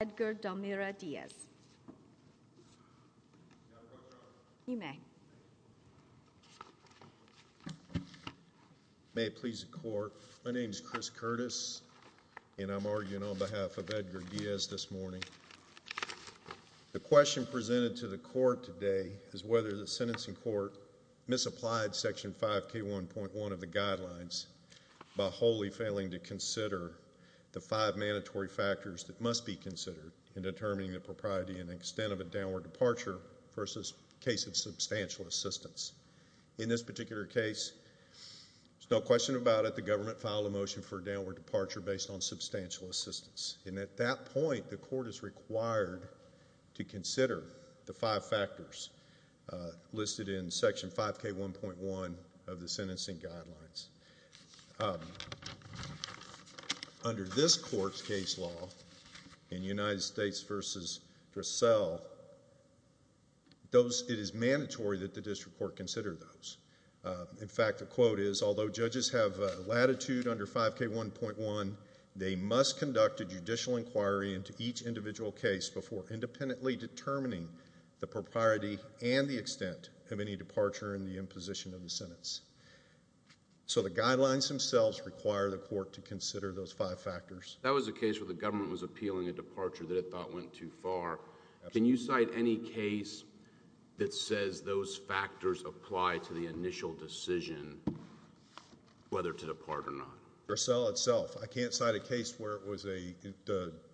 May it please the court. My name is Chris Curtis and I'm arguing on behalf of Edgar Diaz this morning. The question presented to the court today is whether the sentencing court misapplied section 5k1.1 of the guidelines by wholly failing to consider the five mandatory factors that must be considered in determining the propriety and extent of a downward departure versus case of substantial assistance. In this particular case there's no question about it. The government filed a motion for a downward departure based on substantial assistance and at that point the court is required to consider the five factors listed in section 5k1.1 of the sentencing guidelines. Under this court's case law in United States v. Dressel those it is mandatory that the district court consider those. In fact the quote is although judges have latitude under 5k1.1 they must conduct a judicial inquiry into each individual case before independently determining the propriety and the extent of any departure in the imposition of the sentence. So the guidelines themselves require the court to consider those five factors. That was a case where the government was appealing a departure that it thought went too far. Can you cite any case that says those factors apply to the initial decision whether to depart or not? Dressel itself I can't cite a case where it was a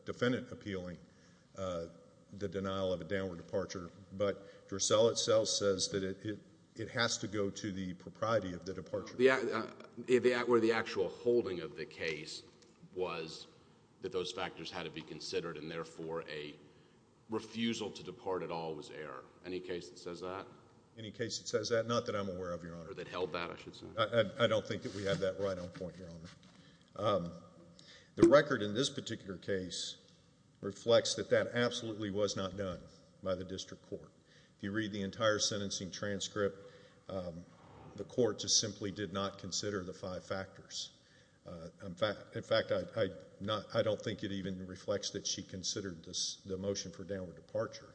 defendant appealing the denial of a downward departure but Dressel itself says that it has to go to the propriety of the departure. Yeah where the actual holding of the case was that those factors had to be considered and therefore a refusal to depart at all was error. Any case that says that? Any case that says that not that I'm aware of your honor. Or that held that I should say. I don't think that we have that right on point your honor. The record in this particular case reflects that that absolutely was not done by the district court. If you read the entire transcript the court just simply did not consider the five factors. In fact I don't think it even reflects that she considered this the motion for downward departure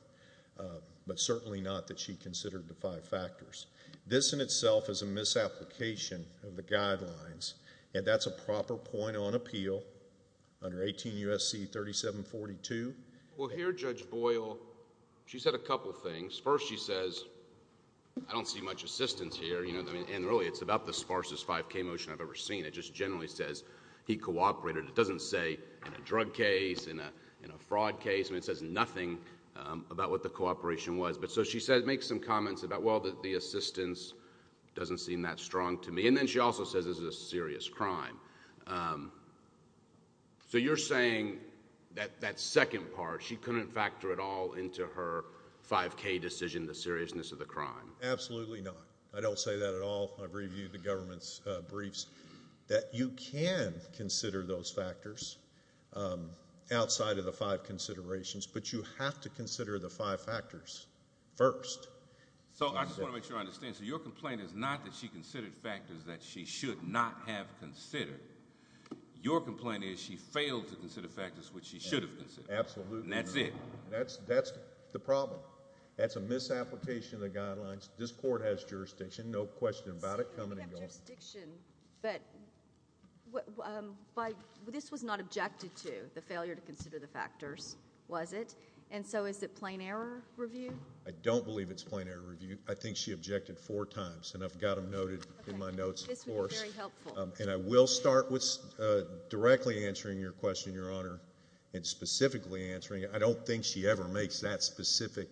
but certainly not that she considered the five factors. This in itself is a misapplication of the guidelines and that's a proper point on appeal under 18 U.S.C. 3742. Well here Judge Boyle she said a couple things. First she says I don't see much assistance here you know and really it's about the sparsest 5k motion I've ever seen. It just generally says he cooperated. It doesn't say in a drug case in a in a fraud case. I mean it says nothing about what the cooperation was but so she said make some comments about well that the assistance doesn't seem that strong to me and then she also says this is a serious crime. So you're saying that that second part she couldn't factor it all into her 5k decision the seriousness of the crime. Absolutely not. I don't say that at all. I've reviewed the government's briefs that you can consider those factors outside of the five considerations but you have to consider the five factors first. So I just want to make sure I understand so your complaint is not that she considered factors that she should not have considered. Your complaint is she failed to consider factors which she should have considered. That's it. That's that's the problem. That's a misapplication of the guidelines. This court has jurisdiction no question about it coming and going. But this was not objected to the failure to consider the factors was it and so is it plain error review? I don't believe it's plain error review. I think she objected four times and I've got them noted in my notes and I will start with your question your honor and specifically answering it. I don't think she ever makes that specific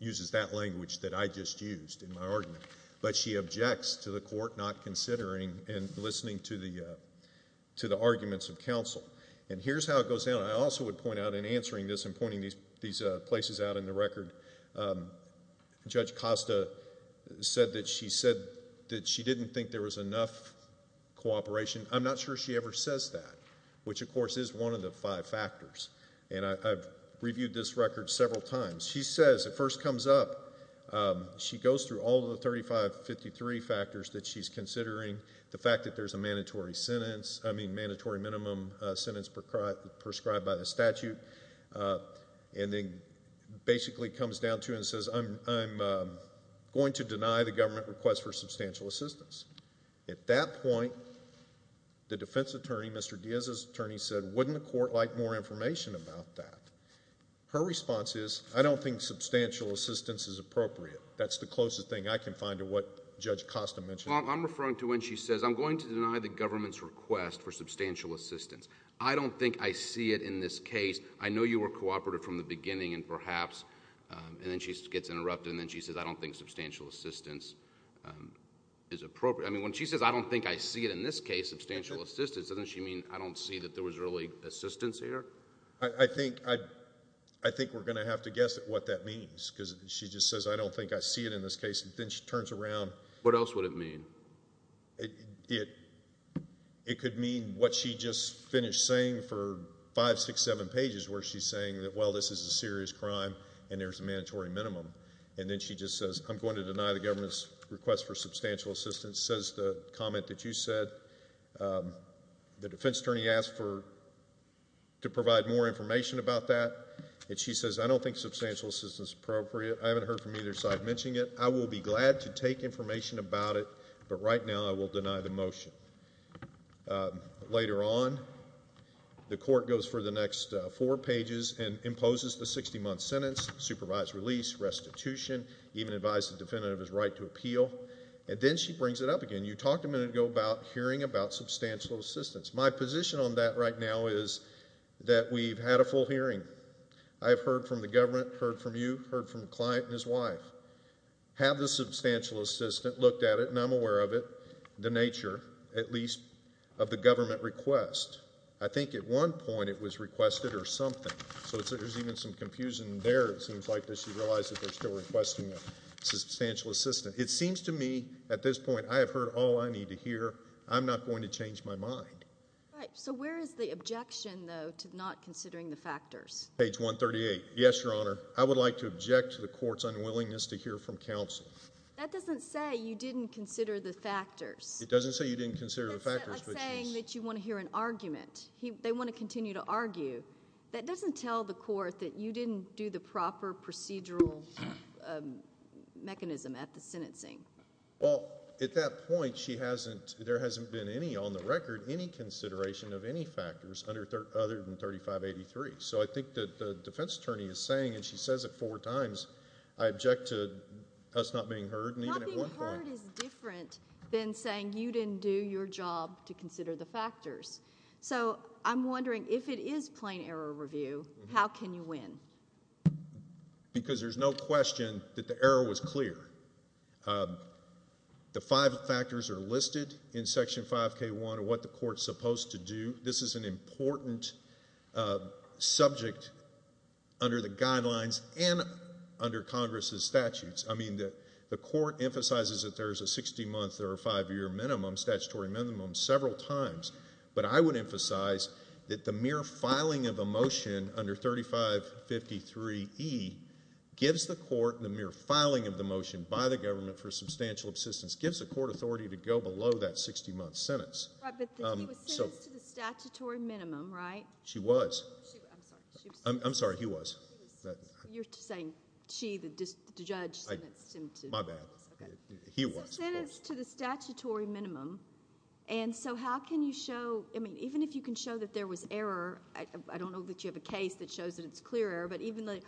uses that language that I just used in my argument but she objects to the court not considering and listening to the to the arguments of counsel and here's how it goes down. I also would point out in answering this and pointing these these places out in the record um Judge Costa said that she said that she didn't think there was enough cooperation. I'm not sure she says that which of course is one of the five factors and I've reviewed this record several times. She says it first comes up she goes through all the 3553 factors that she's considering the fact that there's a mandatory sentence I mean mandatory minimum sentence prescribed by the statute and then basically comes down to and says I'm I'm going to deny the government request for Mr. Diaz's attorney said wouldn't the court like more information about that. Her response is I don't think substantial assistance is appropriate. That's the closest thing I can find to what Judge Costa mentioned. I'm referring to when she says I'm going to deny the government's request for substantial assistance. I don't think I see it in this case. I know you were cooperative from the beginning and perhaps and then she gets interrupted and then she says I don't think substantial assistance is appropriate. I mean when she says I don't think I see it in this case substantial assistance doesn't she mean I don't see that there was really assistance here. I think I I think we're going to have to guess at what that means because she just says I don't think I see it in this case and then she turns around. What else would it mean? It it it could mean what she just finished saying for five six seven pages where she's saying that well this is a serious crime and there's a mandatory minimum and then she just says I'm going to deny the government's request for substantial assistance says the comment that you said the defense attorney asked for to provide more information about that and she says I don't think substantial assistance appropriate. I haven't heard from either side mentioning it. I will be glad to take information about it but right now I will deny the motion. Later on the court goes for the next four pages and imposes the 60-month sentence, supervise release, restitution, even advise the defendant of his right to appeal and then she brings it up again. You talked a minute ago about hearing about substantial assistance. My position on that right now is that we've had a full hearing. I've heard from the government, heard from you, heard from the client and his wife. Have the substantial assistant looked at it and I'm aware of it the nature at least of the government request. I think at one point it was requested or something so there's even some it seems to me at this point I have heard all I need to hear. I'm not going to change my mind. So where is the objection though to not considering the factors? Page 138. Yes, your honor. I would like to object to the court's unwillingness to hear from counsel. That doesn't say you didn't consider the factors. It doesn't say you didn't consider the factors. It's saying that you want to hear an argument. They want to continue to argue. That doesn't tell the court that you didn't do the proper procedural mechanism at the sentencing. Well, at that point she hasn't, there hasn't been any on the record, any consideration of any factors other than 3583. So I think that the defense attorney is saying and she says it four times, I object to us not being heard. Not being heard is different than saying you didn't do your job to consider the factors. So I'm wondering if it is plain error review, how can you win? Because there's no question that the error was clear. The five factors are listed in section 5k1 of what the court's supposed to do. This is an important subject under the guidelines and under Congress's statutes. I mean that the court emphasizes that there's a 60 month or a five year minimum, statutory minimum, several times. But I would emphasize that the mere filing of a motion under 3553E gives the court, the mere filing of the motion by the government for substantial assistance, gives the court authority to go below that 60 month sentence. Right, but he was sentenced to the statutory minimum, right? She was. I'm sorry, he was. You're saying she, the judge sentenced him to? My bad. He was. To the statutory minimum and so how can you show, I mean even if you can show that there was error, I don't know that you have a case that shows that it's clear error, but even the,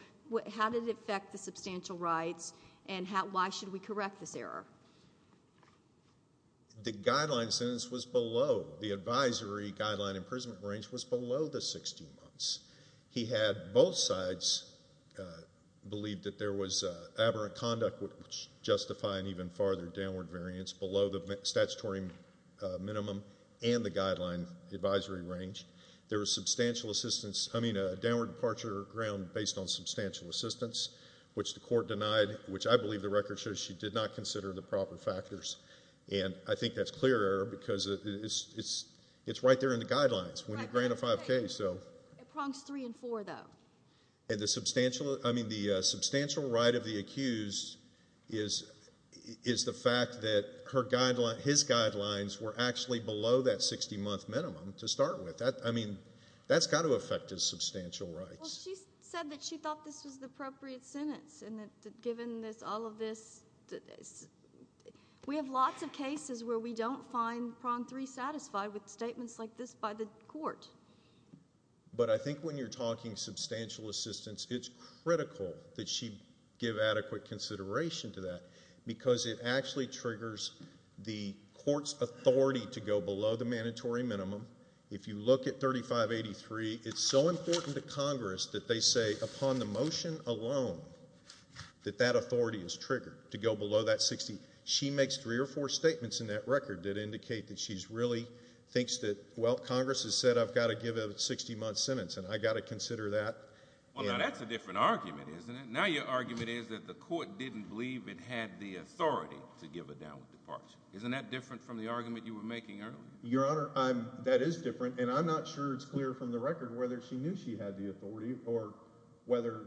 how did it affect the substantial rights and how, why should we correct this error? The guideline sentence was below, the advisory guideline imprisonment range was below the 60 months. He had both sides believe that there was aberrant conduct which justify an even farther downward variance below the statutory minimum and the guideline advisory range. There was substantial assistance, I mean a downward departure ground based on substantial assistance which the court denied, which I believe the record shows she did not consider the proper factors and I think that's clear error because it's right there in the guidelines when you grant a 5K so. It prongs three and four though. And the substantial, I mean the substantial right of the accused is, is the fact that her guideline, his guidelines were actually below that 60 month minimum to start with. That, I mean, that's got to affect his substantial rights. Well she said that she thought this was the appropriate sentence and that given this, all of this, we have lots of cases where we don't find prong three satisfied with statements like this by the court. But I think when you're talking substantial assistance, it's critical that she give adequate consideration to that because it actually triggers the court's authority to go below the mandatory minimum. If you look at 3583, it's so important to Congress that they say upon the motion alone that that authority is triggered to go below that 60. She makes three or four statements in that to give a 60 month sentence and I got to consider that. Well now that's a different argument, isn't it? Now your argument is that the court didn't believe it had the authority to give a downward departure. Isn't that different from the argument you were making earlier? Your Honor, I'm, that is different and I'm not sure it's clear from the record whether she knew she had the authority or whether,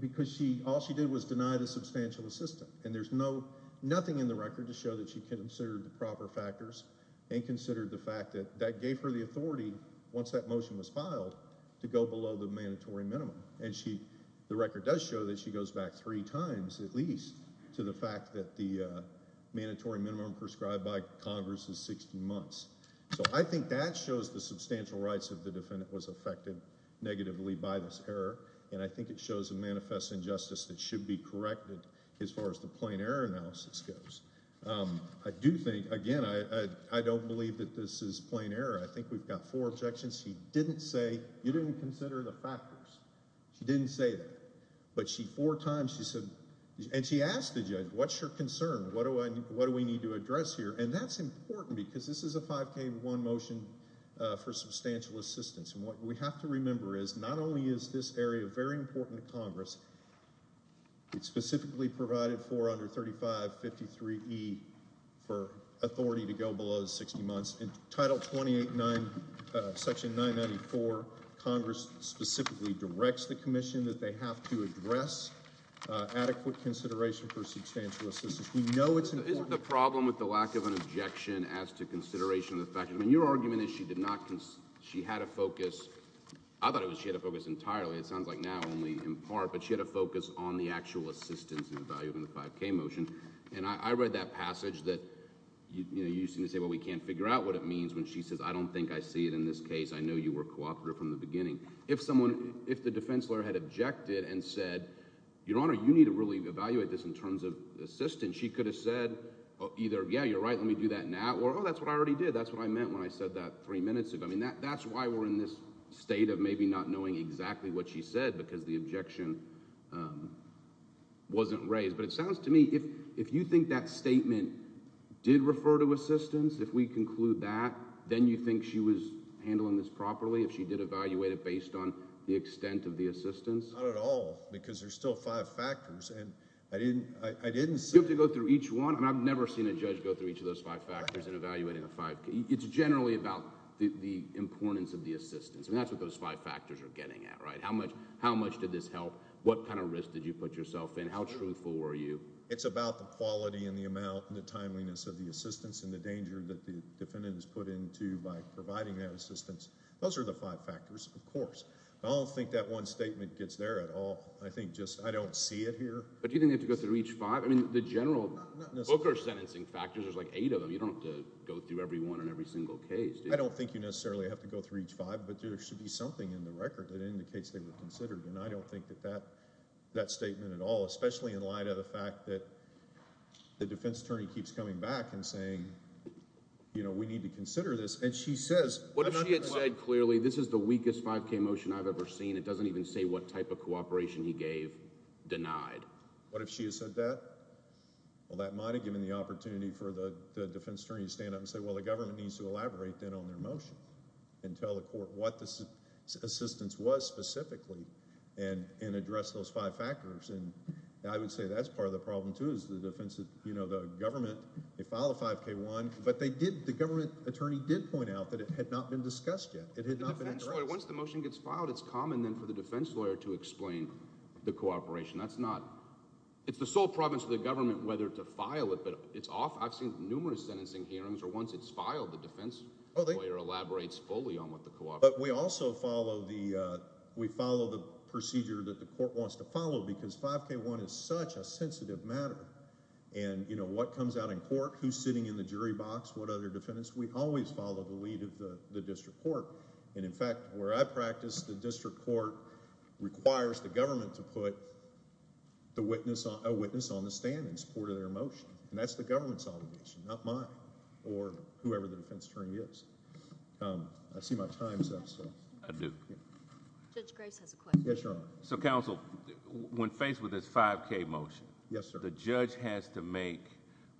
because she, all she did was deny the substantial assistance. And there's no, nothing in the record to show that she considered the proper factors and considered the fact that that gave her the authority once that motion was filed to go below the mandatory minimum. And she, the record does show that she goes back three times at least to the fact that the mandatory minimum prescribed by Congress is 60 months. So I think that shows the substantial rights of the defendant was affected negatively by this error and I think it shows a manifest injustice that should be corrected as far as the plain error analysis goes. I do think, again, I don't believe that this is plain error. I think we've got four objections. She didn't say you didn't consider the factors. She didn't say that. But she, four times she said, and she asked the judge, what's your concern? What do I, what do we need to address here? And that's important because this is a 5K1 motion for substantial assistance. And what we have to remember is not only is this area very important to Congress, it's specifically provided for under 3553E for authority to go below 60 months. In title 289, section 994, Congress specifically directs the commission that they have to address adequate consideration for substantial assistance. We know it's important. Isn't the problem with the lack of an objection as to consideration of the fact, I mean, your argument is she did not, she had a focus. I thought it was she had a focus entirely. It was in part, but she had a focus on the actual assistance in the value of the 5K motion. And I read that passage that, you know, you seem to say, well, we can't figure out what it means when she says, I don't think I see it in this case. I know you were cooperative from the beginning. If someone, if the defense lawyer had objected and said, your Honor, you need to really evaluate this in terms of assistance, she could have said, either, yeah, you're right, let me do that now. Or, oh, that's what I already did. That's what I meant when I said that three minutes ago. I mean, that's why we're in this state of maybe not knowing exactly what she said, because the objection wasn't raised. But it sounds to me, if you think that statement did refer to assistance, if we conclude that, then you think she was handling this properly, if she did evaluate it based on the extent of the assistance? Not at all, because there's still five factors. And I didn't say... You have to go through each one. And I've never seen a judge go through each of those five factors in evaluating a 5K. It's generally about the importance of the assistance. I mean, that's what those five factors are getting at, right? How much did this help? What kind of risk did you put yourself in? How truthful were you? It's about the quality and the amount and the timeliness of the assistance and the danger that the defendant is put into by providing that assistance. Those are the five factors, of course. I don't think that one statement gets there at all. I think just, I don't see it here. But you didn't have to go through each five? I mean, the general... Not necessarily. There's like eight of them. You don't have to go through every one in every single case. I don't think you necessarily have to go through each five, but there should be something in the record that indicates they were considered. And I don't think that that statement at all, especially in light of the fact that the defense attorney keeps coming back and saying, you know, we need to consider this. And she says... What if she had said clearly, this is the weakest 5K motion I've ever seen. It doesn't even say what type of cooperation he gave, denied. What if she had said that? Well, that might have given the opportunity for the defense attorney to stand up and say, well, the government needs to elaborate then on their motion and tell the court what this assistance was specifically and address those five factors. And I would say that's part of the problem, too, is the defense... You know, the government, they filed a 5K1, but the government attorney did point out that it had not been discussed yet. It had not been addressed. Once the motion gets filed, it's common then for the defense lawyer to explain the cooperation. That's not... It's the sole province of the government whether to file it, but it's often... I've seen numerous sentencing hearings where once it's filed, the defense lawyer elaborates fully on what the cooperation... But we also follow the... We follow the procedure that the court wants to follow, because 5K1 is such a sensitive matter. And, you know, what comes out in court, who's sitting in the jury box, what other defendants, we always follow the lead of the district court. And, in fact, where I practice, the district court requires the government to put a witness on the stand in support of their motion. And that's the government's obligation, not mine or whoever the defense attorney is. I see my time's up, so... I do. Judge Grace has a question. Yes, Your Honor. So, counsel, when faced with this 5K motion... Yes, sir. ...the judge has to make...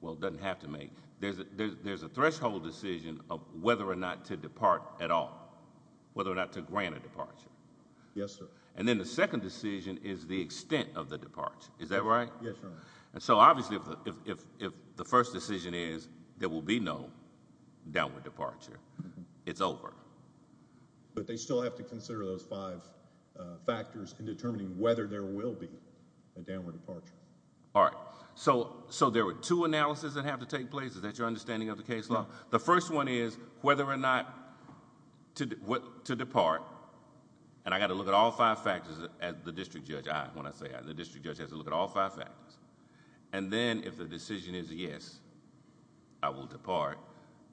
Well, doesn't have to make. There's a threshold decision of whether or not to depart at all, whether or not to grant a departure. Yes, sir. And then the second decision is the extent of the departure. Is that right? Yes, Your Honor. And so, obviously, if the first decision is there will be no downward departure, it's over. But they still have to consider those five factors in determining whether there will be a downward departure. All right. So there were two analyses that have to take place. Is that your understanding of the case law? The first one is whether or not to depart. And I got to look at all five factors as the district judge, when I say I, the district judge has to look at all five factors. And then if the decision is yes, I will depart,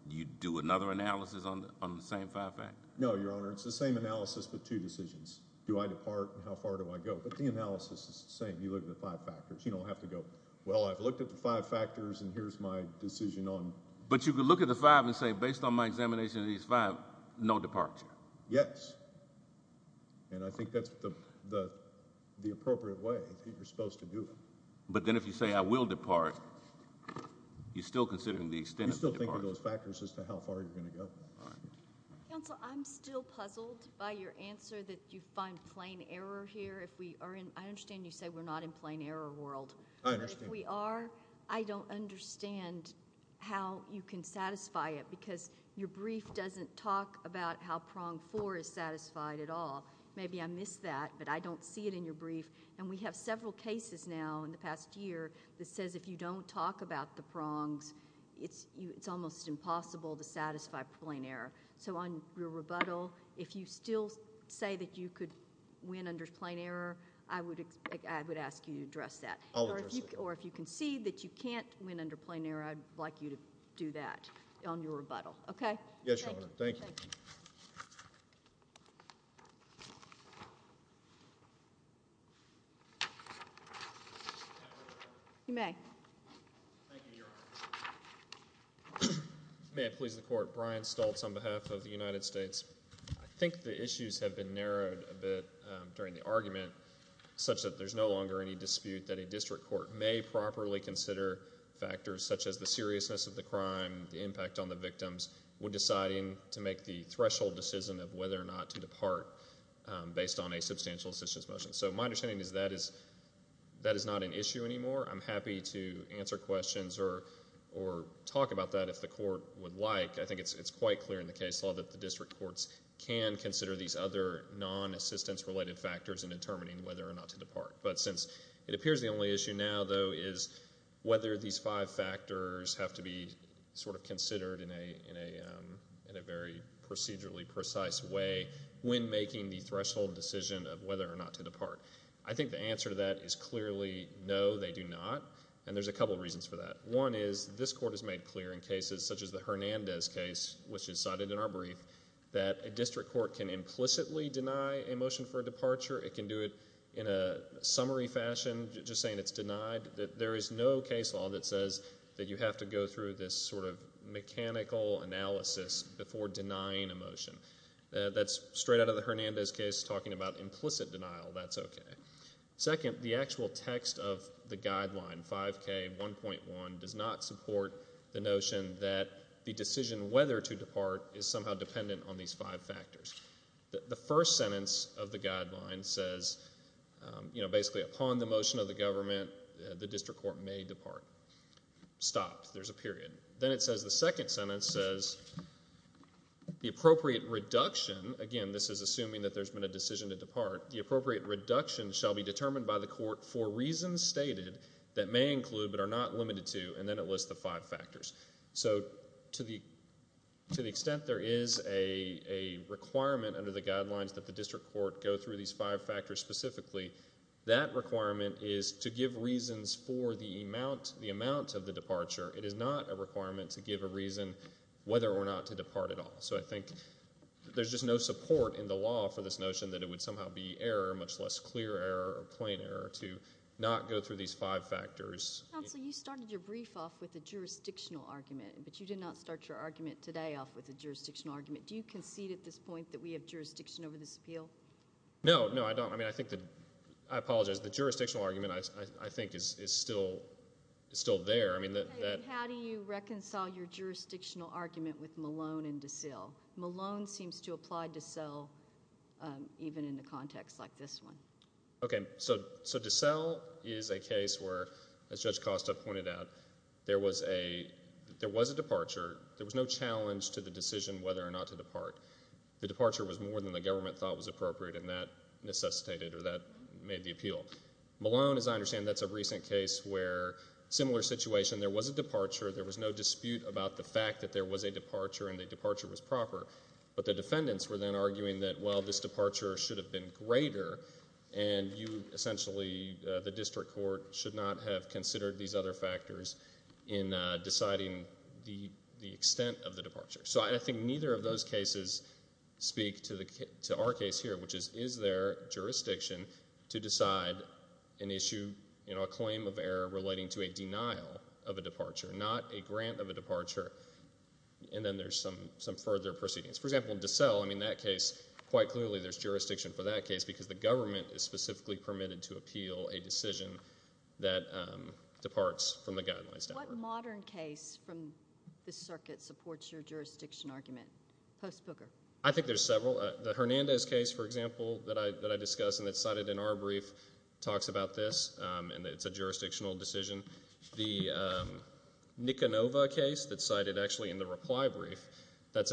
you do another analysis on the same five factors? No, Your Honor. It's the same analysis but two decisions. Do I depart and how far do I go? But the analysis is the same. You look at the five factors. You don't have to go, well, I've looked at the five factors and here's my decision on... But you could look at the five and say, based on my examination of these five, no departure. Yes. And I think that's the appropriate way that you're supposed to do it. But then if you say I will depart, you're still considering the extent of the departure. You still think of those factors as to how far you're going to go. All right. Counsel, I'm still puzzled by your answer that you find plain error here. If we are in, I understand you say we're not in plain error world. I understand. I don't understand how you can satisfy it because your brief doesn't talk about how prong four is satisfied at all. Maybe I missed that, but I don't see it in your brief. And we have several cases now in the past year that says if you don't talk about the prongs, it's almost impossible to satisfy plain error. So on your rebuttal, if you still say that you could win under plain error, I would ask you to address that. I'll address it. Or if you concede that you can't win under plain error, I'd like you to do that on your rebuttal. Okay? Yes, Your Honor. Thank you. You may. Thank you, Your Honor. May it please the Court. Brian Stoltz on behalf of the United States. I think the issues have been narrowed a bit during the argument such that there's no longer any dispute that a district court may properly consider factors such as the seriousness of the crime, the impact on the victims when deciding to make the threshold decision of whether or not to depart based on a substantial assistance motion. So my understanding is that is not an issue anymore. I'm happy to answer questions or talk about that if the court would like. I think it's quite clear in the case law that the district courts can consider these other non-assistance-related factors in determining whether or not to depart. But since it appears the only issue now, though, is whether these five factors have to be sort of considered in a very procedurally precise way when making the threshold decision of whether or not to depart. I think the answer to that is clearly no, they do not. And there's a couple reasons for that. One is this Court has made clear in cases such as the Hernandez case, which can implicitly deny a motion for a departure, it can do it in a summary fashion, just saying it's denied. There is no case law that says that you have to go through this sort of mechanical analysis before denying a motion. That's straight out of the Hernandez case talking about implicit denial, that's okay. Second, the actual text of the guideline, 5K1.1, does not support the notion that the decision whether to depart is somehow dependent on these five factors. The first sentence of the guideline says, you know, basically, upon the motion of the government, the district court may depart. Stop. There's a period. Then it says, the second sentence says, the appropriate reduction, again, this is assuming that there's been a decision to depart, the appropriate reduction shall be determined by the court for reasons stated that may include but are not limited to, and then it lists the five factors. So to the extent there is a requirement under the guidelines that the district court go through these five factors specifically, that requirement is to give reasons for the amount of the departure. It is not a requirement to give a reason whether or not to depart at all. So I think there's just no support in the law for this notion that it would somehow be error, much less clear error or plain error, to not go through these five factors. Counsel, you started your brief off with a jurisdictional argument, but you did not start your argument today off with a jurisdictional argument. Do you concede at this point that we have jurisdiction over this appeal? No, no, I don't. I mean, I think that, I apologize. The jurisdictional argument, I think, is still there. I mean, that. How do you reconcile your jurisdictional argument with Malone and DeSalle? Malone seems to apply DeSalle even in a context like this one. Okay, so DeSalle is a case where, as Judge Costa pointed out, there was a departure. There was no challenge to the decision whether or not to depart. The departure was more than the government thought was appropriate, and that necessitated or that made the appeal. Malone, as I understand, that's a recent case where, similar situation, there was a departure. There was no dispute about the fact that there was a departure and the departure was proper. But the defendants were then arguing that, well, this departure should have been greater, and you, essentially, the district court, should not have considered these other factors in deciding the extent of the departure. So I think neither of those cases speak to our case here, which is, is there jurisdiction to decide an issue, a claim of error relating to a denial of a departure, not a grant of a departure? And then there's some further proceedings. For example, in DeSalle, I mean, that case, quite clearly, there's jurisdiction for that case because the government is specifically permitted to appeal a decision that departs from the guidelines. What modern case from the circuit supports your jurisdiction argument, post-Booker? I think there's several. The Hernandez case, for example, that I discussed and that's cited in our brief talks about this, and it's a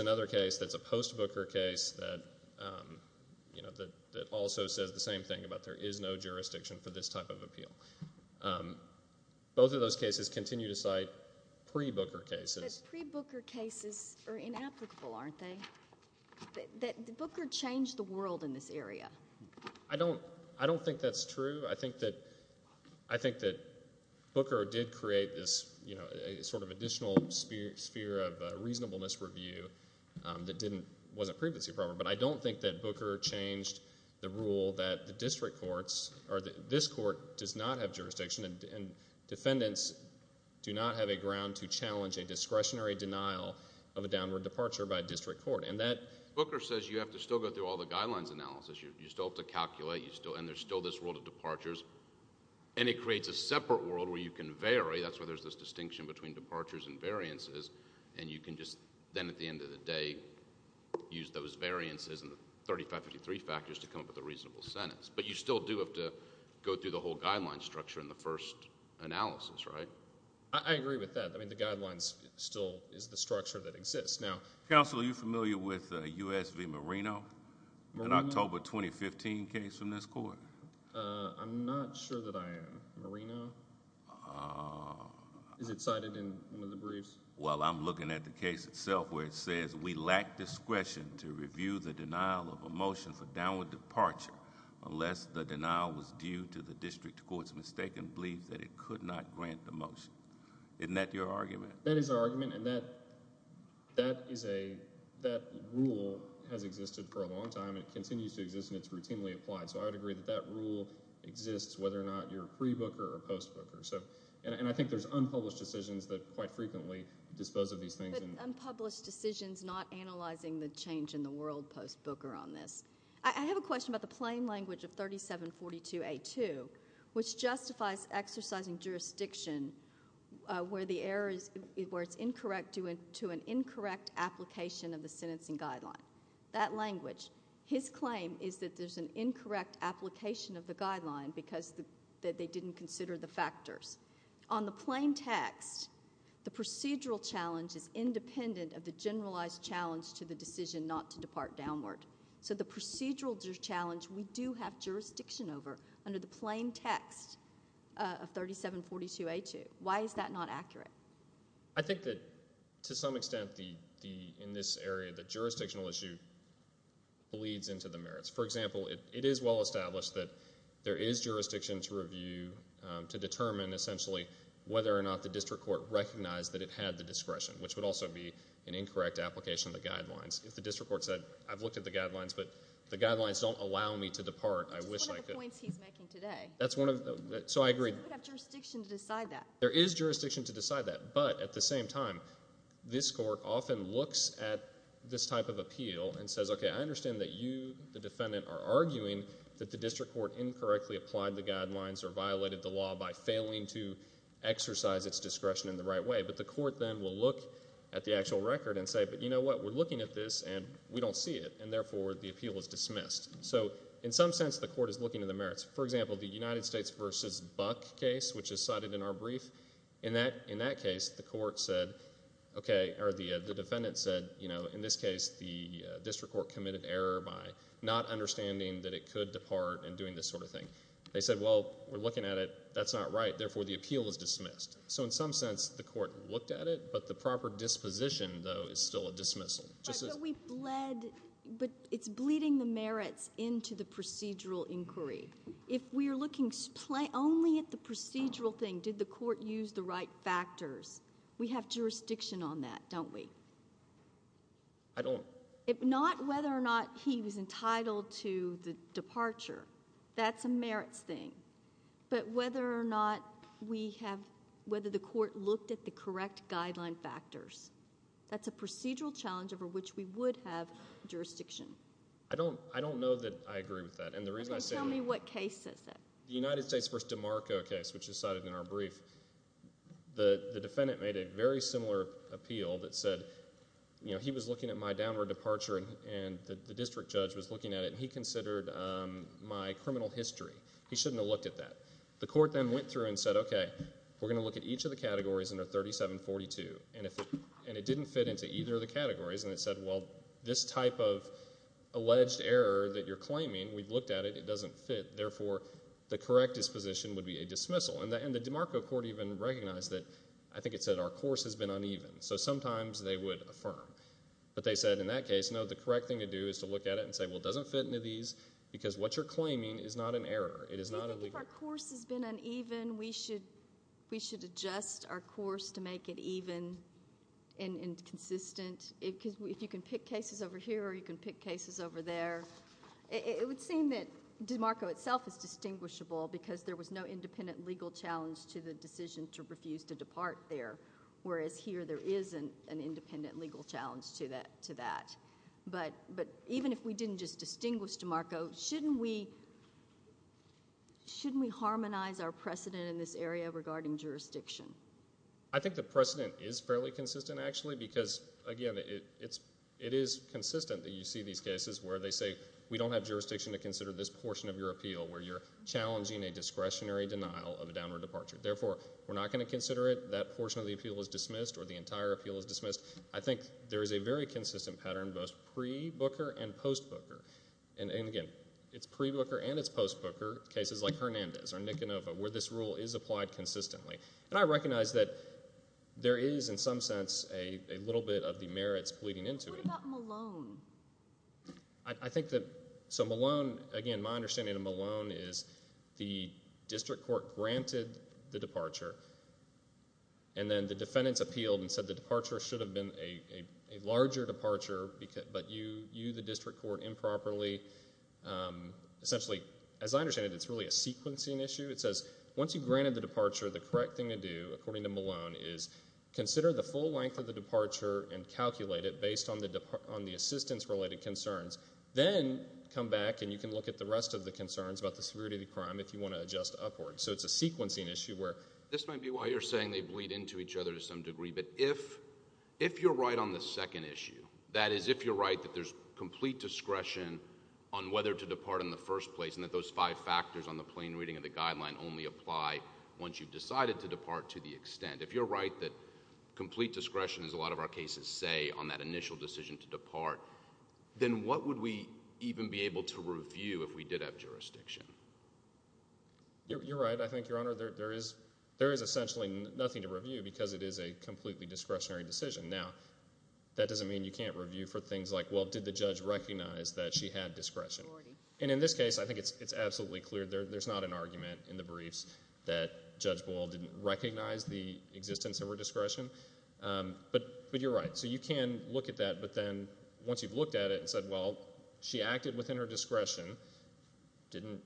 another case that's a post-Booker case that, you know, that also says the same thing about there is no jurisdiction for this type of appeal. Both of those cases continue to cite pre-Booker cases. But pre-Booker cases are inapplicable, aren't they? Booker changed the world in this area. I don't, I don't think that's true. I think that, I think that Booker did create this, you know, sort of additional sphere of reasonableness review that didn't, wasn't previously proper. But I don't think that Booker changed the rule that the district courts or this court does not have jurisdiction and defendants do not have a ground to challenge a discretionary denial of a downward departure by a district court. And that Booker says you have to still go through all the guidelines analysis. You still have to calculate. You still, and there's still this world of departures. And it creates a separate world where you can vary. That's where there's this distinction between departures and variances. And you can just then at the end of the day use those variances and the 3553 factors to come up with a reasonable sentence. But you still do have to go through the whole guideline structure in the first analysis, right? I agree with that. I mean, the guidelines still is the structure that exists. Now... Counsel, are you familiar with U.S. v. Marino, an October 2015 case from this court? I'm not sure that I am. Marino? Is it cited in one of the briefs? Well, I'm looking at the case itself where it says we lack discretion to review the denial of a motion for downward departure unless the denial was due to the district court's mistaken belief that it could not grant the motion. Isn't that your argument? And that rule has existed for a long time. It continues to exist and it's routinely applied. So I would agree that that rule exists whether or not you're pre-Booker or post-Booker. And I think there's unpublished decisions that quite frequently dispose of these things. But unpublished decisions not analyzing the change in the world post-Booker on this. I have a question about the plain language of 3742A2, which justifies exercising jurisdiction where it's incorrect to an incorrect application of the sentencing guideline. That language. His claim is that there's an incorrect application of the guideline because they didn't consider the factors. On the plain text, the procedural challenge is independent of the generalized challenge to the decision not to depart downward. So the procedural challenge we do have jurisdiction over under the plain text of 3742A2. Why is that not accurate? I think that to some extent in this area, the jurisdictional issue bleeds into the merits. For example, it is well established that there is jurisdiction to review, to determine essentially whether or not the district court recognized that it had the discretion, which would also be an incorrect application of the guidelines. If the district court said, I've looked at the record and I don't see any reason for me to depart, I wish I could. That's one of the points he's making today. So I agree. There is jurisdiction to decide that. There is jurisdiction to decide that. But at the same time, this court often looks at this type of appeal and says, okay, I understand that you, the defendant, are arguing that the district court incorrectly applied the guidelines or violated the law by failing to exercise its discretion in the right way. But the court then will look at the actual record and say, but you know what, we're looking at this and we don't see it, therefore the appeal is dismissed. So in some sense, the court is looking at the merits. For example, the United States v. Buck case, which is cited in our brief, in that case, the court said, okay, or the defendant said, you know, in this case, the district court committed error by not understanding that it could depart and doing this sort of thing. They said, well, we're looking at it, that's not right, therefore the appeal is dismissed. So in some sense, the court looked at it, but the proper disposition, though, is still a dismissal. So we bled, but it's bleeding the merits into the procedural inquiry. If we're looking only at the procedural thing, did the court use the right factors, we have jurisdiction on that, don't we? I don't. If not, whether or not he was entitled to the departure, that's a merits thing. But whether or not we have, whether the court looked at the correct guideline factors, that's a procedural challenge over which we would have jurisdiction. I don't, I don't know that I agree with that, and the reason I say. Okay, tell me what case says that. The United States v. DeMarco case, which is cited in our brief, the defendant made a very similar appeal that said, you know, he was looking at my downward departure and the district judge was looking at it, and he considered my criminal history. He shouldn't have looked at that. The court then went through and said, okay, we're going to look at each of the categories under 3742, and it didn't fit into either of the categories, and it said, well, this type of alleged error that you're claiming, we've looked at it, it doesn't fit, therefore the correct disposition would be a dismissal. And the DeMarco court even recognized that, I think it said, our course has been uneven. So sometimes they would affirm. But they said in that case, no, the correct thing to do is to look at it and say, well, it doesn't fit into these because what you're claiming is not an error. It is not illegal. If our course has been uneven, we should adjust our course to make it even and consistent. If you can pick cases over here, or you can pick cases over there, it would seem that DeMarco itself is distinguishable because there was no independent legal challenge to the decision to refuse to depart there, whereas here there is an independent legal challenge to that. But even if we didn't just dismiss DeMarco, shouldn't we harmonize our precedent in this area regarding jurisdiction? I think the precedent is fairly consistent, actually, because, again, it is consistent that you see these cases where they say, we don't have jurisdiction to consider this portion of your appeal where you're challenging a discretionary denial of a downward departure. Therefore, we're not going to consider it. That portion of the appeal is dismissed, or the entire appeal is dismissed. I think there is a very consistent pattern, both pre-Booker and post-Booker. And, again, it's pre-Booker and it's post-Booker cases like Hernandez or Nikonova where this rule is applied consistently. And I recognize that there is, in some sense, a little bit of the merits bleeding into it. What about Malone? I think that, so Malone, again, my understanding of Malone is the district court granted the departure, and then the defendants appealed and said the departure should have been a larger departure, but you, the district court, improperly, essentially, as I understand it, it's really a sequencing issue. It says, once you've granted the departure, the correct thing to do, according to Malone, is consider the full length of the departure and calculate it based on the assistance-related concerns. Then come back and you can look at the rest of the concerns about the severity of the crime if you want to adjust upward. So it's a sequencing issue where this might be why you're saying they bleed into each other to some degree, but if you're right on the second issue, that is, if you're right that there's complete discretion on whether to depart in the first place and that those five factors on the plain reading of the guideline only apply once you've decided to depart to the extent, if you're right that complete discretion, as a lot of our cases say, on that initial decision to depart, then what would we even be able to review if we did have jurisdiction? You're right. I think, Your Honor, there is essentially nothing to review because it is a completely discretionary decision. Now, that doesn't mean you can't review for things like, well, did the judge recognize that she had discretion? And in this case, I think it's absolutely clear there's not an argument in the briefs that Judge Boyle didn't recognize the existence of her discretion, but you're right. So you can look at that, but then once you've discretion, didn't,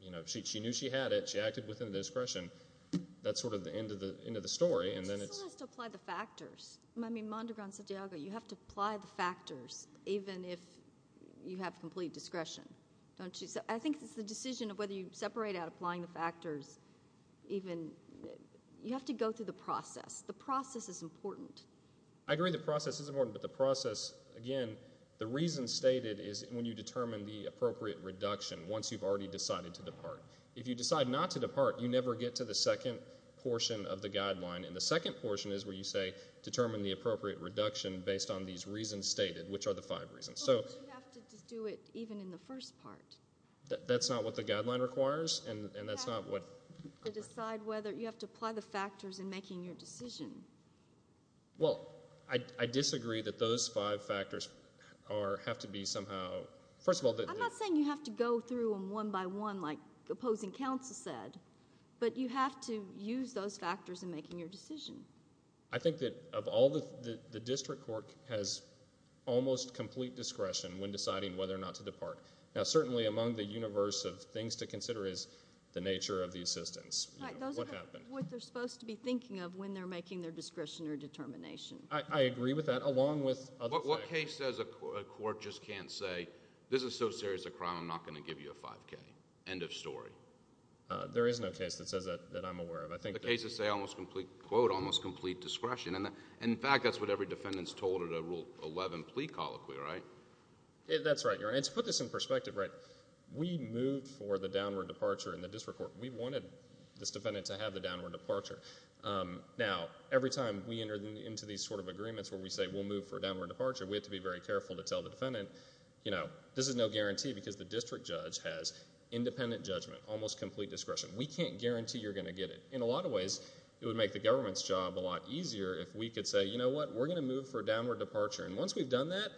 you know, she knew she had it. She acted within the discretion. That's sort of the end of the story. And then it's... Someone has to apply the factors. I mean, Mondragon-Santiago, you have to apply the factors even if you have complete discretion, don't you? So I think it's the decision of whether you separate out applying the factors even, you have to go through the process. The process is important. I agree the process is important, but you have to determine the appropriate reduction once you've already decided to depart. If you decide not to depart, you never get to the second portion of the guideline. And the second portion is where you say determine the appropriate reduction based on these reasons stated, which are the five reasons. So... But you have to do it even in the first part. That's not what the guideline requires, and that's not what... You have to decide whether, you have to apply the factors in making your decision. Well, I disagree that those five factors are... Have to be somehow... First of all... I'm not saying you have to go through them one by one like opposing counsel said, but you have to use those factors in making your decision. I think that of all the... The district court has almost complete discretion when deciding whether or not to depart. Now, certainly among the universe of things to consider is the nature of the assistance. What happened? Those are what they're supposed to be thinking of when they're making their discretion or determination. I agree with that along with... What case says a court just can't say, this is so serious a crime, I'm not going to give you a 5k? End of story. There is no case that says that I'm aware of. I think... The cases say almost complete... Quote, almost complete discretion. And in fact, that's what every defendant's told at a Rule 11 plea colloquy, right? That's right, Your Honor. And to put this in perspective, right, we moved for the downward departure in the district court. We wanted this defendant to have the downward departure. Now, every time we enter into these sort of agreements where we say, we'll move for a downward departure, we have to be very careful to tell the defendant, you know, this is no guarantee because the district judge has independent judgment, almost complete discretion. We can't guarantee you're going to get it. In a lot of ways, it would make the government's job a lot easier if we could say, you know what, we're going to move for a downward departure. And once we've done that,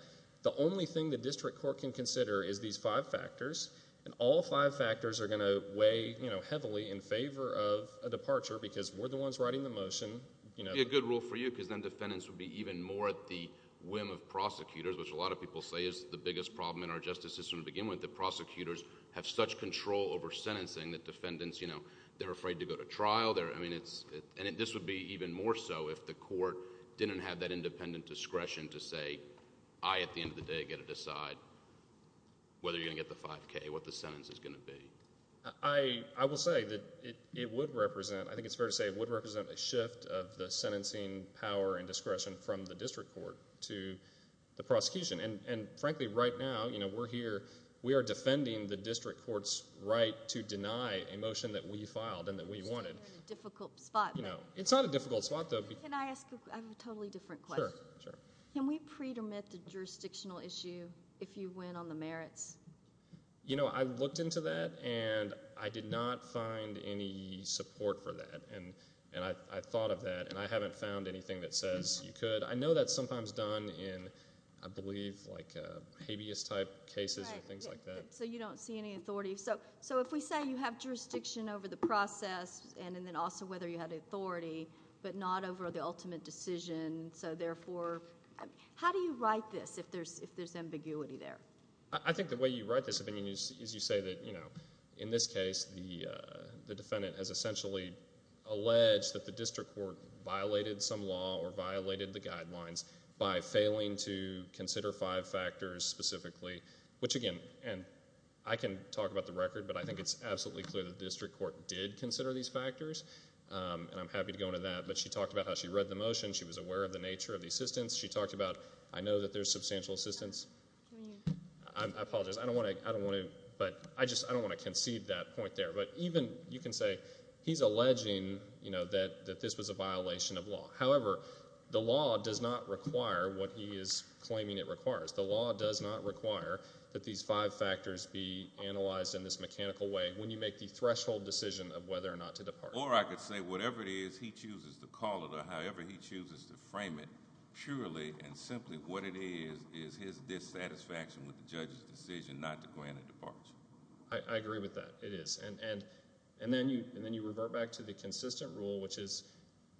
the only thing the district court can consider is these five factors. And all five factors are going to weigh heavily in favor of a departure because we're the ones writing the motion. It would be a good rule for you because then defendants would be even more at the whim of prosecutors, which a lot of people say is the biggest problem in our justice system to begin with. The prosecutors have such control over sentencing that defendants, you know, they're afraid to go to trial. And this would be even more so if the court didn't have that independent discretion to say, I, at the end of the day, get to decide whether you're going to get the 5K, what the sentence is going to be. I will say that it would represent, I think it's the sentencing power and discretion from the district court to the prosecution. And frankly, right now, you know, we're here, we are defending the district court's right to deny a motion that we filed and that we wanted. It's not a difficult spot though. Can I ask a totally different question? Sure. Can we pre-dermit the jurisdictional issue if you win on the merits? You know, I looked into that and I did not find any support for that. And I thought of that and I haven't found anything that says you could. I know that's sometimes done in, I believe, like habeas type cases and things like that. So you don't see any authority. So if we say you have jurisdiction over the process and then also whether you have the authority, but not over the ultimate decision, so therefore, how do you write this if there's ambiguity there? I think the way you write this is you say that, you know, in this case, the defendant has essentially alleged that the district court violated some law or violated the guidelines by failing to consider five factors specifically, which again, and I can talk about the record, but I think it's absolutely clear that the district court did consider these factors. And I'm happy to go into that. But she talked about how she read the motion. She was aware of the nature of the assistance. She talked about, I know that there's substantial assistance. I apologize. I don't want to, I don't want to, but I just, I don't want to concede that point there, but even you can say he's alleging, you know, that, that this was a violation of law. However, the law does not require what he is claiming it requires. The law does not require that these five factors be analyzed in this mechanical way when you make the threshold decision of whether or not to depart. Or I could say whatever it is he chooses to call it or however he chooses to frame it, purely and simply what it is, is his dissatisfaction with the judge's decision not to grant a departure. I agree with that. It is. And, and, and then you, and then you revert back to the consistent rule, which is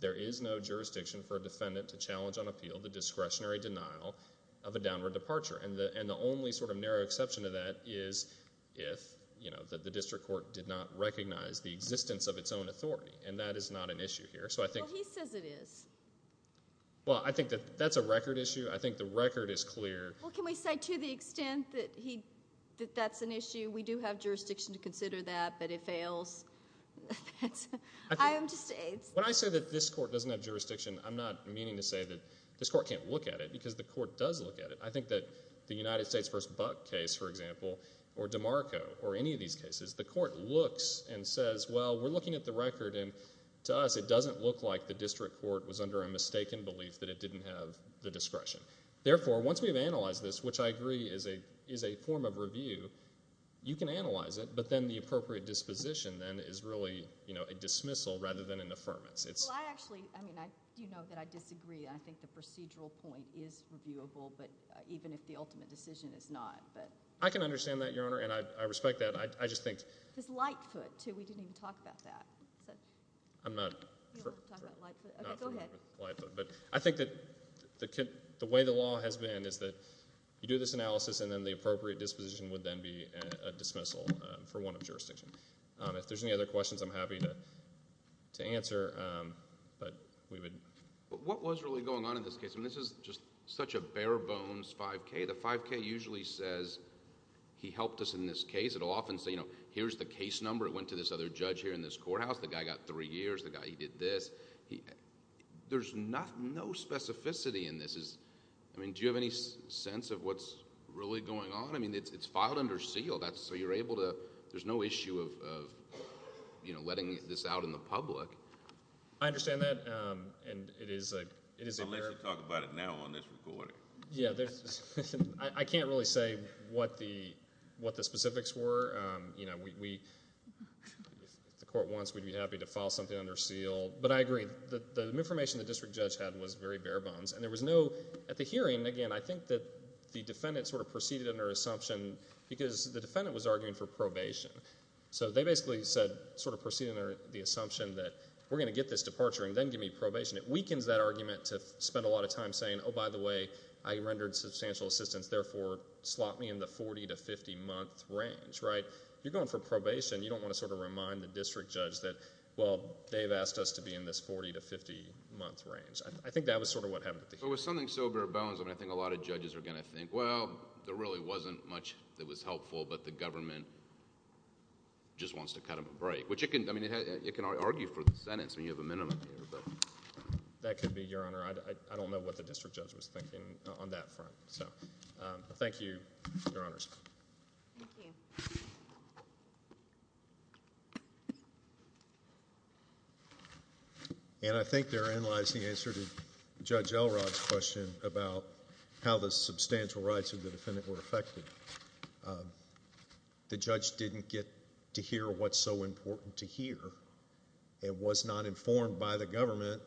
there is no jurisdiction for a defendant to challenge on appeal the discretionary denial of a downward departure. And the, and the only sort of narrow exception to that is if, you know, that the district court did not recognize the existence of its own authority. And that is not an issue here. So I think. Well, he says it is. Well, I think that that's a record issue. I think the record is clear. Well, can we say to the extent that he, that that's an issue? We do have jurisdiction to consider that, but it fails. I am just aides. When I say that this court doesn't have jurisdiction, I'm not meaning to say that this court can't look at it because the court does look at it. I think that the United States v. Buck case, for example, or DeMarco or any of these cases, the court looks and says, well, we're looking at the record, and to us it doesn't look like the district court was under a mistaken belief that it didn't have the discretion. Therefore, once we've analyzed this, which I agree is a, is a form of review, you can analyze it, but then the appropriate disposition then is really, you know, a dismissal rather than an affirmance. It's. Well, I actually, I mean, I, you know that I disagree. I think the procedural point is reviewable, but even if the ultimate decision is not, but. I can understand that, Your Honor, and I, I respect that. I, I just think. It's Lightfoot, too. We didn't even talk about that. I'm not. You don't want to talk about Lightfoot? Okay, go ahead. But I think that the, the way the law has been is that you do this analysis and then the appropriate disposition would then be a dismissal for one of jurisdiction. If there's any other questions, I'm happy to, to answer, but we would. What was really going on in this case? I mean, this is just such a bare bones 5K. The 5K usually says, he helped us in this case. It'll give you the case number. It went to this other judge here in this courthouse. The guy got three years. The guy, he did this. There's not, no specificity in this. I mean, do you have any sense of what's really going on? I mean, it's, it's filed under seal. That's, so you're able to, there's no issue of, of, you know, letting this out in the public. I understand that, and it is a, it is a... I'll let you talk about it now on this recording. Yeah, there's, I can't really say what the, what the specifics were. You know, we, we, if the court wants, we'd be happy to file something under seal, but I agree. The, the information the district judge had was very bare bones, and there was no, at the hearing, again, I think that the defendant sort of proceeded under assumption, because the defendant was arguing for probation. So, they basically said, sort of proceeding under the assumption that we're going to get this departure and then give me probation. It weakens that argument to spend a I rendered substantial assistance, therefore, slot me in the 40 to 50-month range, right? You're going for probation. You don't want to sort of remind the district judge that, well, they've asked us to be in this 40 to 50-month range. I think that was sort of what happened at the hearing. But with something so bare bones, I mean, I think a lot of judges are going to think, well, there really wasn't much that was helpful, but the government just wants to cut him a break, which it can, I mean, it can argue for the sentence. I mean, you have a minimum here, but... That could be, Your Honor. I don't know what the district judge was thinking on that front. So, thank you, Your Honors. And I think therein lies the answer to Judge Elrod's question about how the substantial rights of the defendant were affected. The judge didn't get to hear what's so important to hear. It was not informed by the government,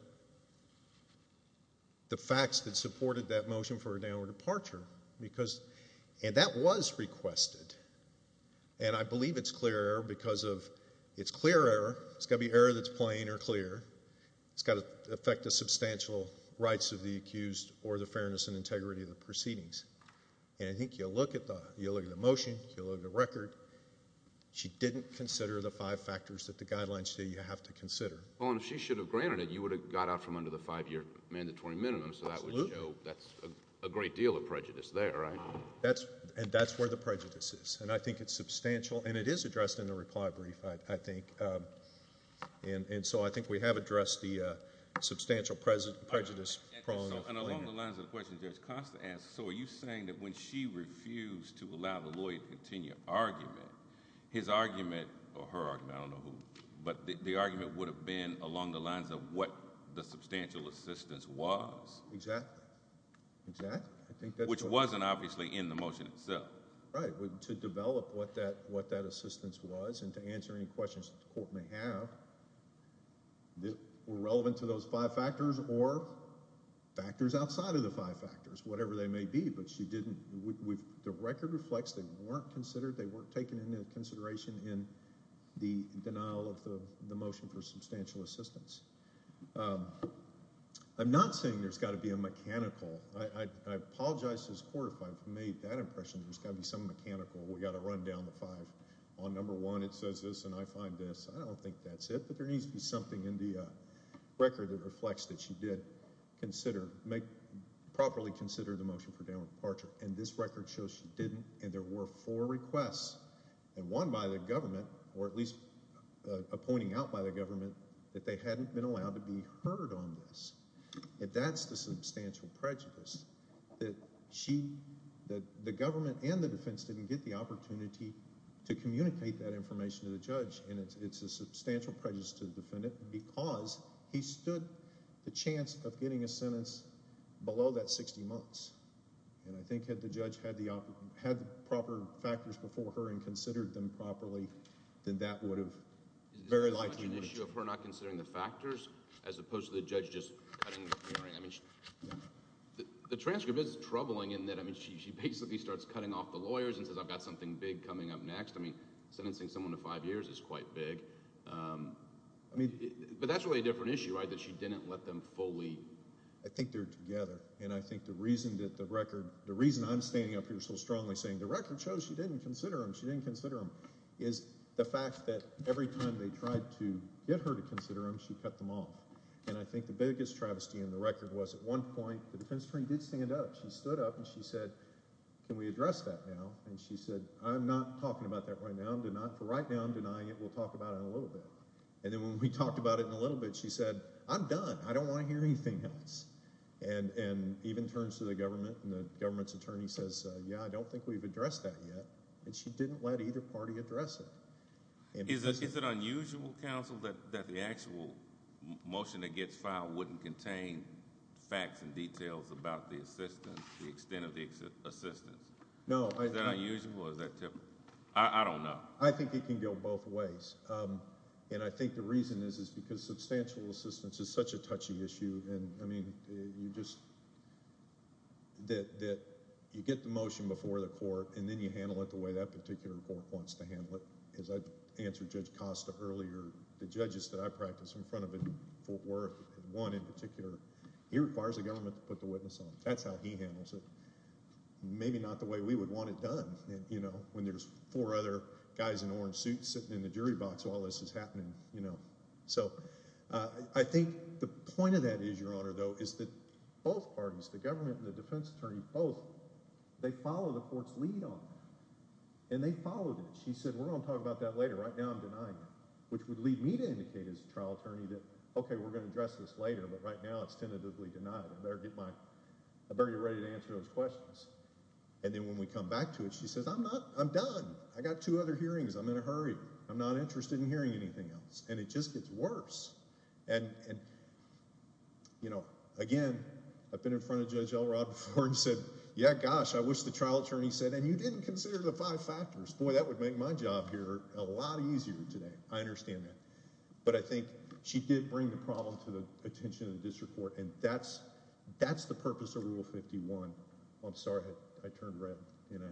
the facts that supported that motion for a downward departure, because... And that was requested. And I believe it's clear error because of... It's clear error. It's got to be error that's plain or clear. It's got to affect the substantial rights of the accused or the fairness and integrity of the proceedings. And I think you'll look at the motion. You'll look at the factors that the guidelines say you have to consider. Well, and if she should have granted it, you would have got out from under the five-year mandatory minimum, so that would show that's a great deal of prejudice there, right? And that's where the prejudice is. And I think it's substantial, and it is addressed in the reply brief, I think. And so, I think we have addressed the substantial prejudice problem. And along the lines of the question Judge Costa asked, so are you saying that when she refused to allow the lawyer to continue argument, his argument or her argument, I don't know who, but the argument would have been along the lines of what the substantial assistance was... Exactly. Exactly. I think... Which wasn't obviously in the motion itself. Right. To develop what that assistance was and to answer any questions that the court may have that were relevant to those five factors or factors outside of the five factors, whatever they may be, but she didn't... The record reflects they weren't considered. They weren't taken into consideration in the denial of the motion for substantial assistance. I'm not saying there's got to be a mechanical. I apologize to this court if I've made that impression there's got to be some mechanical. We've got to run down the five. On number one, it says this, and I find this. I don't think that's it, but there needs to be something in the record that reflects that she did properly consider the motion for requests and one by the government or at least a pointing out by the government that they hadn't been allowed to be heard on this. If that's the substantial prejudice that she... that the government and the defense didn't get the opportunity to communicate that information to the judge and it's a substantial prejudice to the defendant because he stood the chance of getting a sentence below that sixty months. I think had the judge had the proper factors before her and considered them properly, then that would have... Is this an issue of her not considering the factors as opposed to the judge just cutting the hearing? The transcript is troubling in that she basically starts cutting off the lawyers and says I've got something big coming up next. Sentencing someone to five years is quite big, but that's really a different issue, right, that she didn't let them fully... I think they're together, and I think the reason that the record... the reason I'm standing up here so strongly saying the record shows she didn't consider them. She didn't consider them is the fact that every time they tried to get her to consider them, she cut them off, and I think the biggest travesty in the record was at one point the defense attorney did stand up. She stood up and she said can we address that now, and she said I'm not talking about that for right now. I'm denying it. We'll talk about it in a little bit, and then when we talked about it in a little bit, she said I'm done. I don't want to hear anything else, and even turns to the government, and the government's attorney says yeah, I don't think we've addressed that yet, and she didn't let either party address it. Is it unusual, counsel, that the actual motion that gets filed wouldn't contain facts and details about the assistance, the extent of the assistance? I think it can go both ways, and I think the reason is because substantial assistance is such a touchy issue, and I mean you just... that you get the motion before the court, and then you handle it the way that particular court wants to handle it. As I answered Judge Costa earlier, the judges that I practice in front of in Fort Worth, and one in particular, he requires the government to put the witness on. That's how he handles it. Maybe not the way we would want it done, you know, when there's four other guys in orange suits sitting in the jury box while this is happening, you know. So I think the point of that is, Your Honor, though, is that both parties, the government and the defense attorney, both, they follow the court's lead on that, and they followed it. She said we're going to talk about that later. Right now I'm denying it, which would lead me to indicate as a trial attorney that okay, we're going to address this later, but right now it's tentatively denied. I better get my... And then when we come back to it, she says, I'm not... I'm done. I got two other hearings. I'm in a hurry. I'm not interested in hearing anything else. And it just gets worse. And, you know, again, I've been in front of Judge Elrod before and said, yeah, gosh, I wish the trial attorney said, and you didn't consider the five factors. Boy, that would make my job here a lot easier today. I understand that. But I think she did bring the problem to the attention of I turned red and I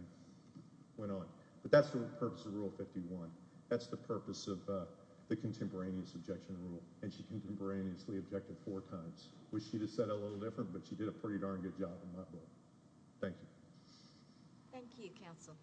went on. But that's the purpose of Rule 51. That's the purpose of the contemporaneous objection rule. And she contemporaneously objected four times, which she just said a little different, but she did a pretty darn good job in my book. Thank you. Thank you, counsel.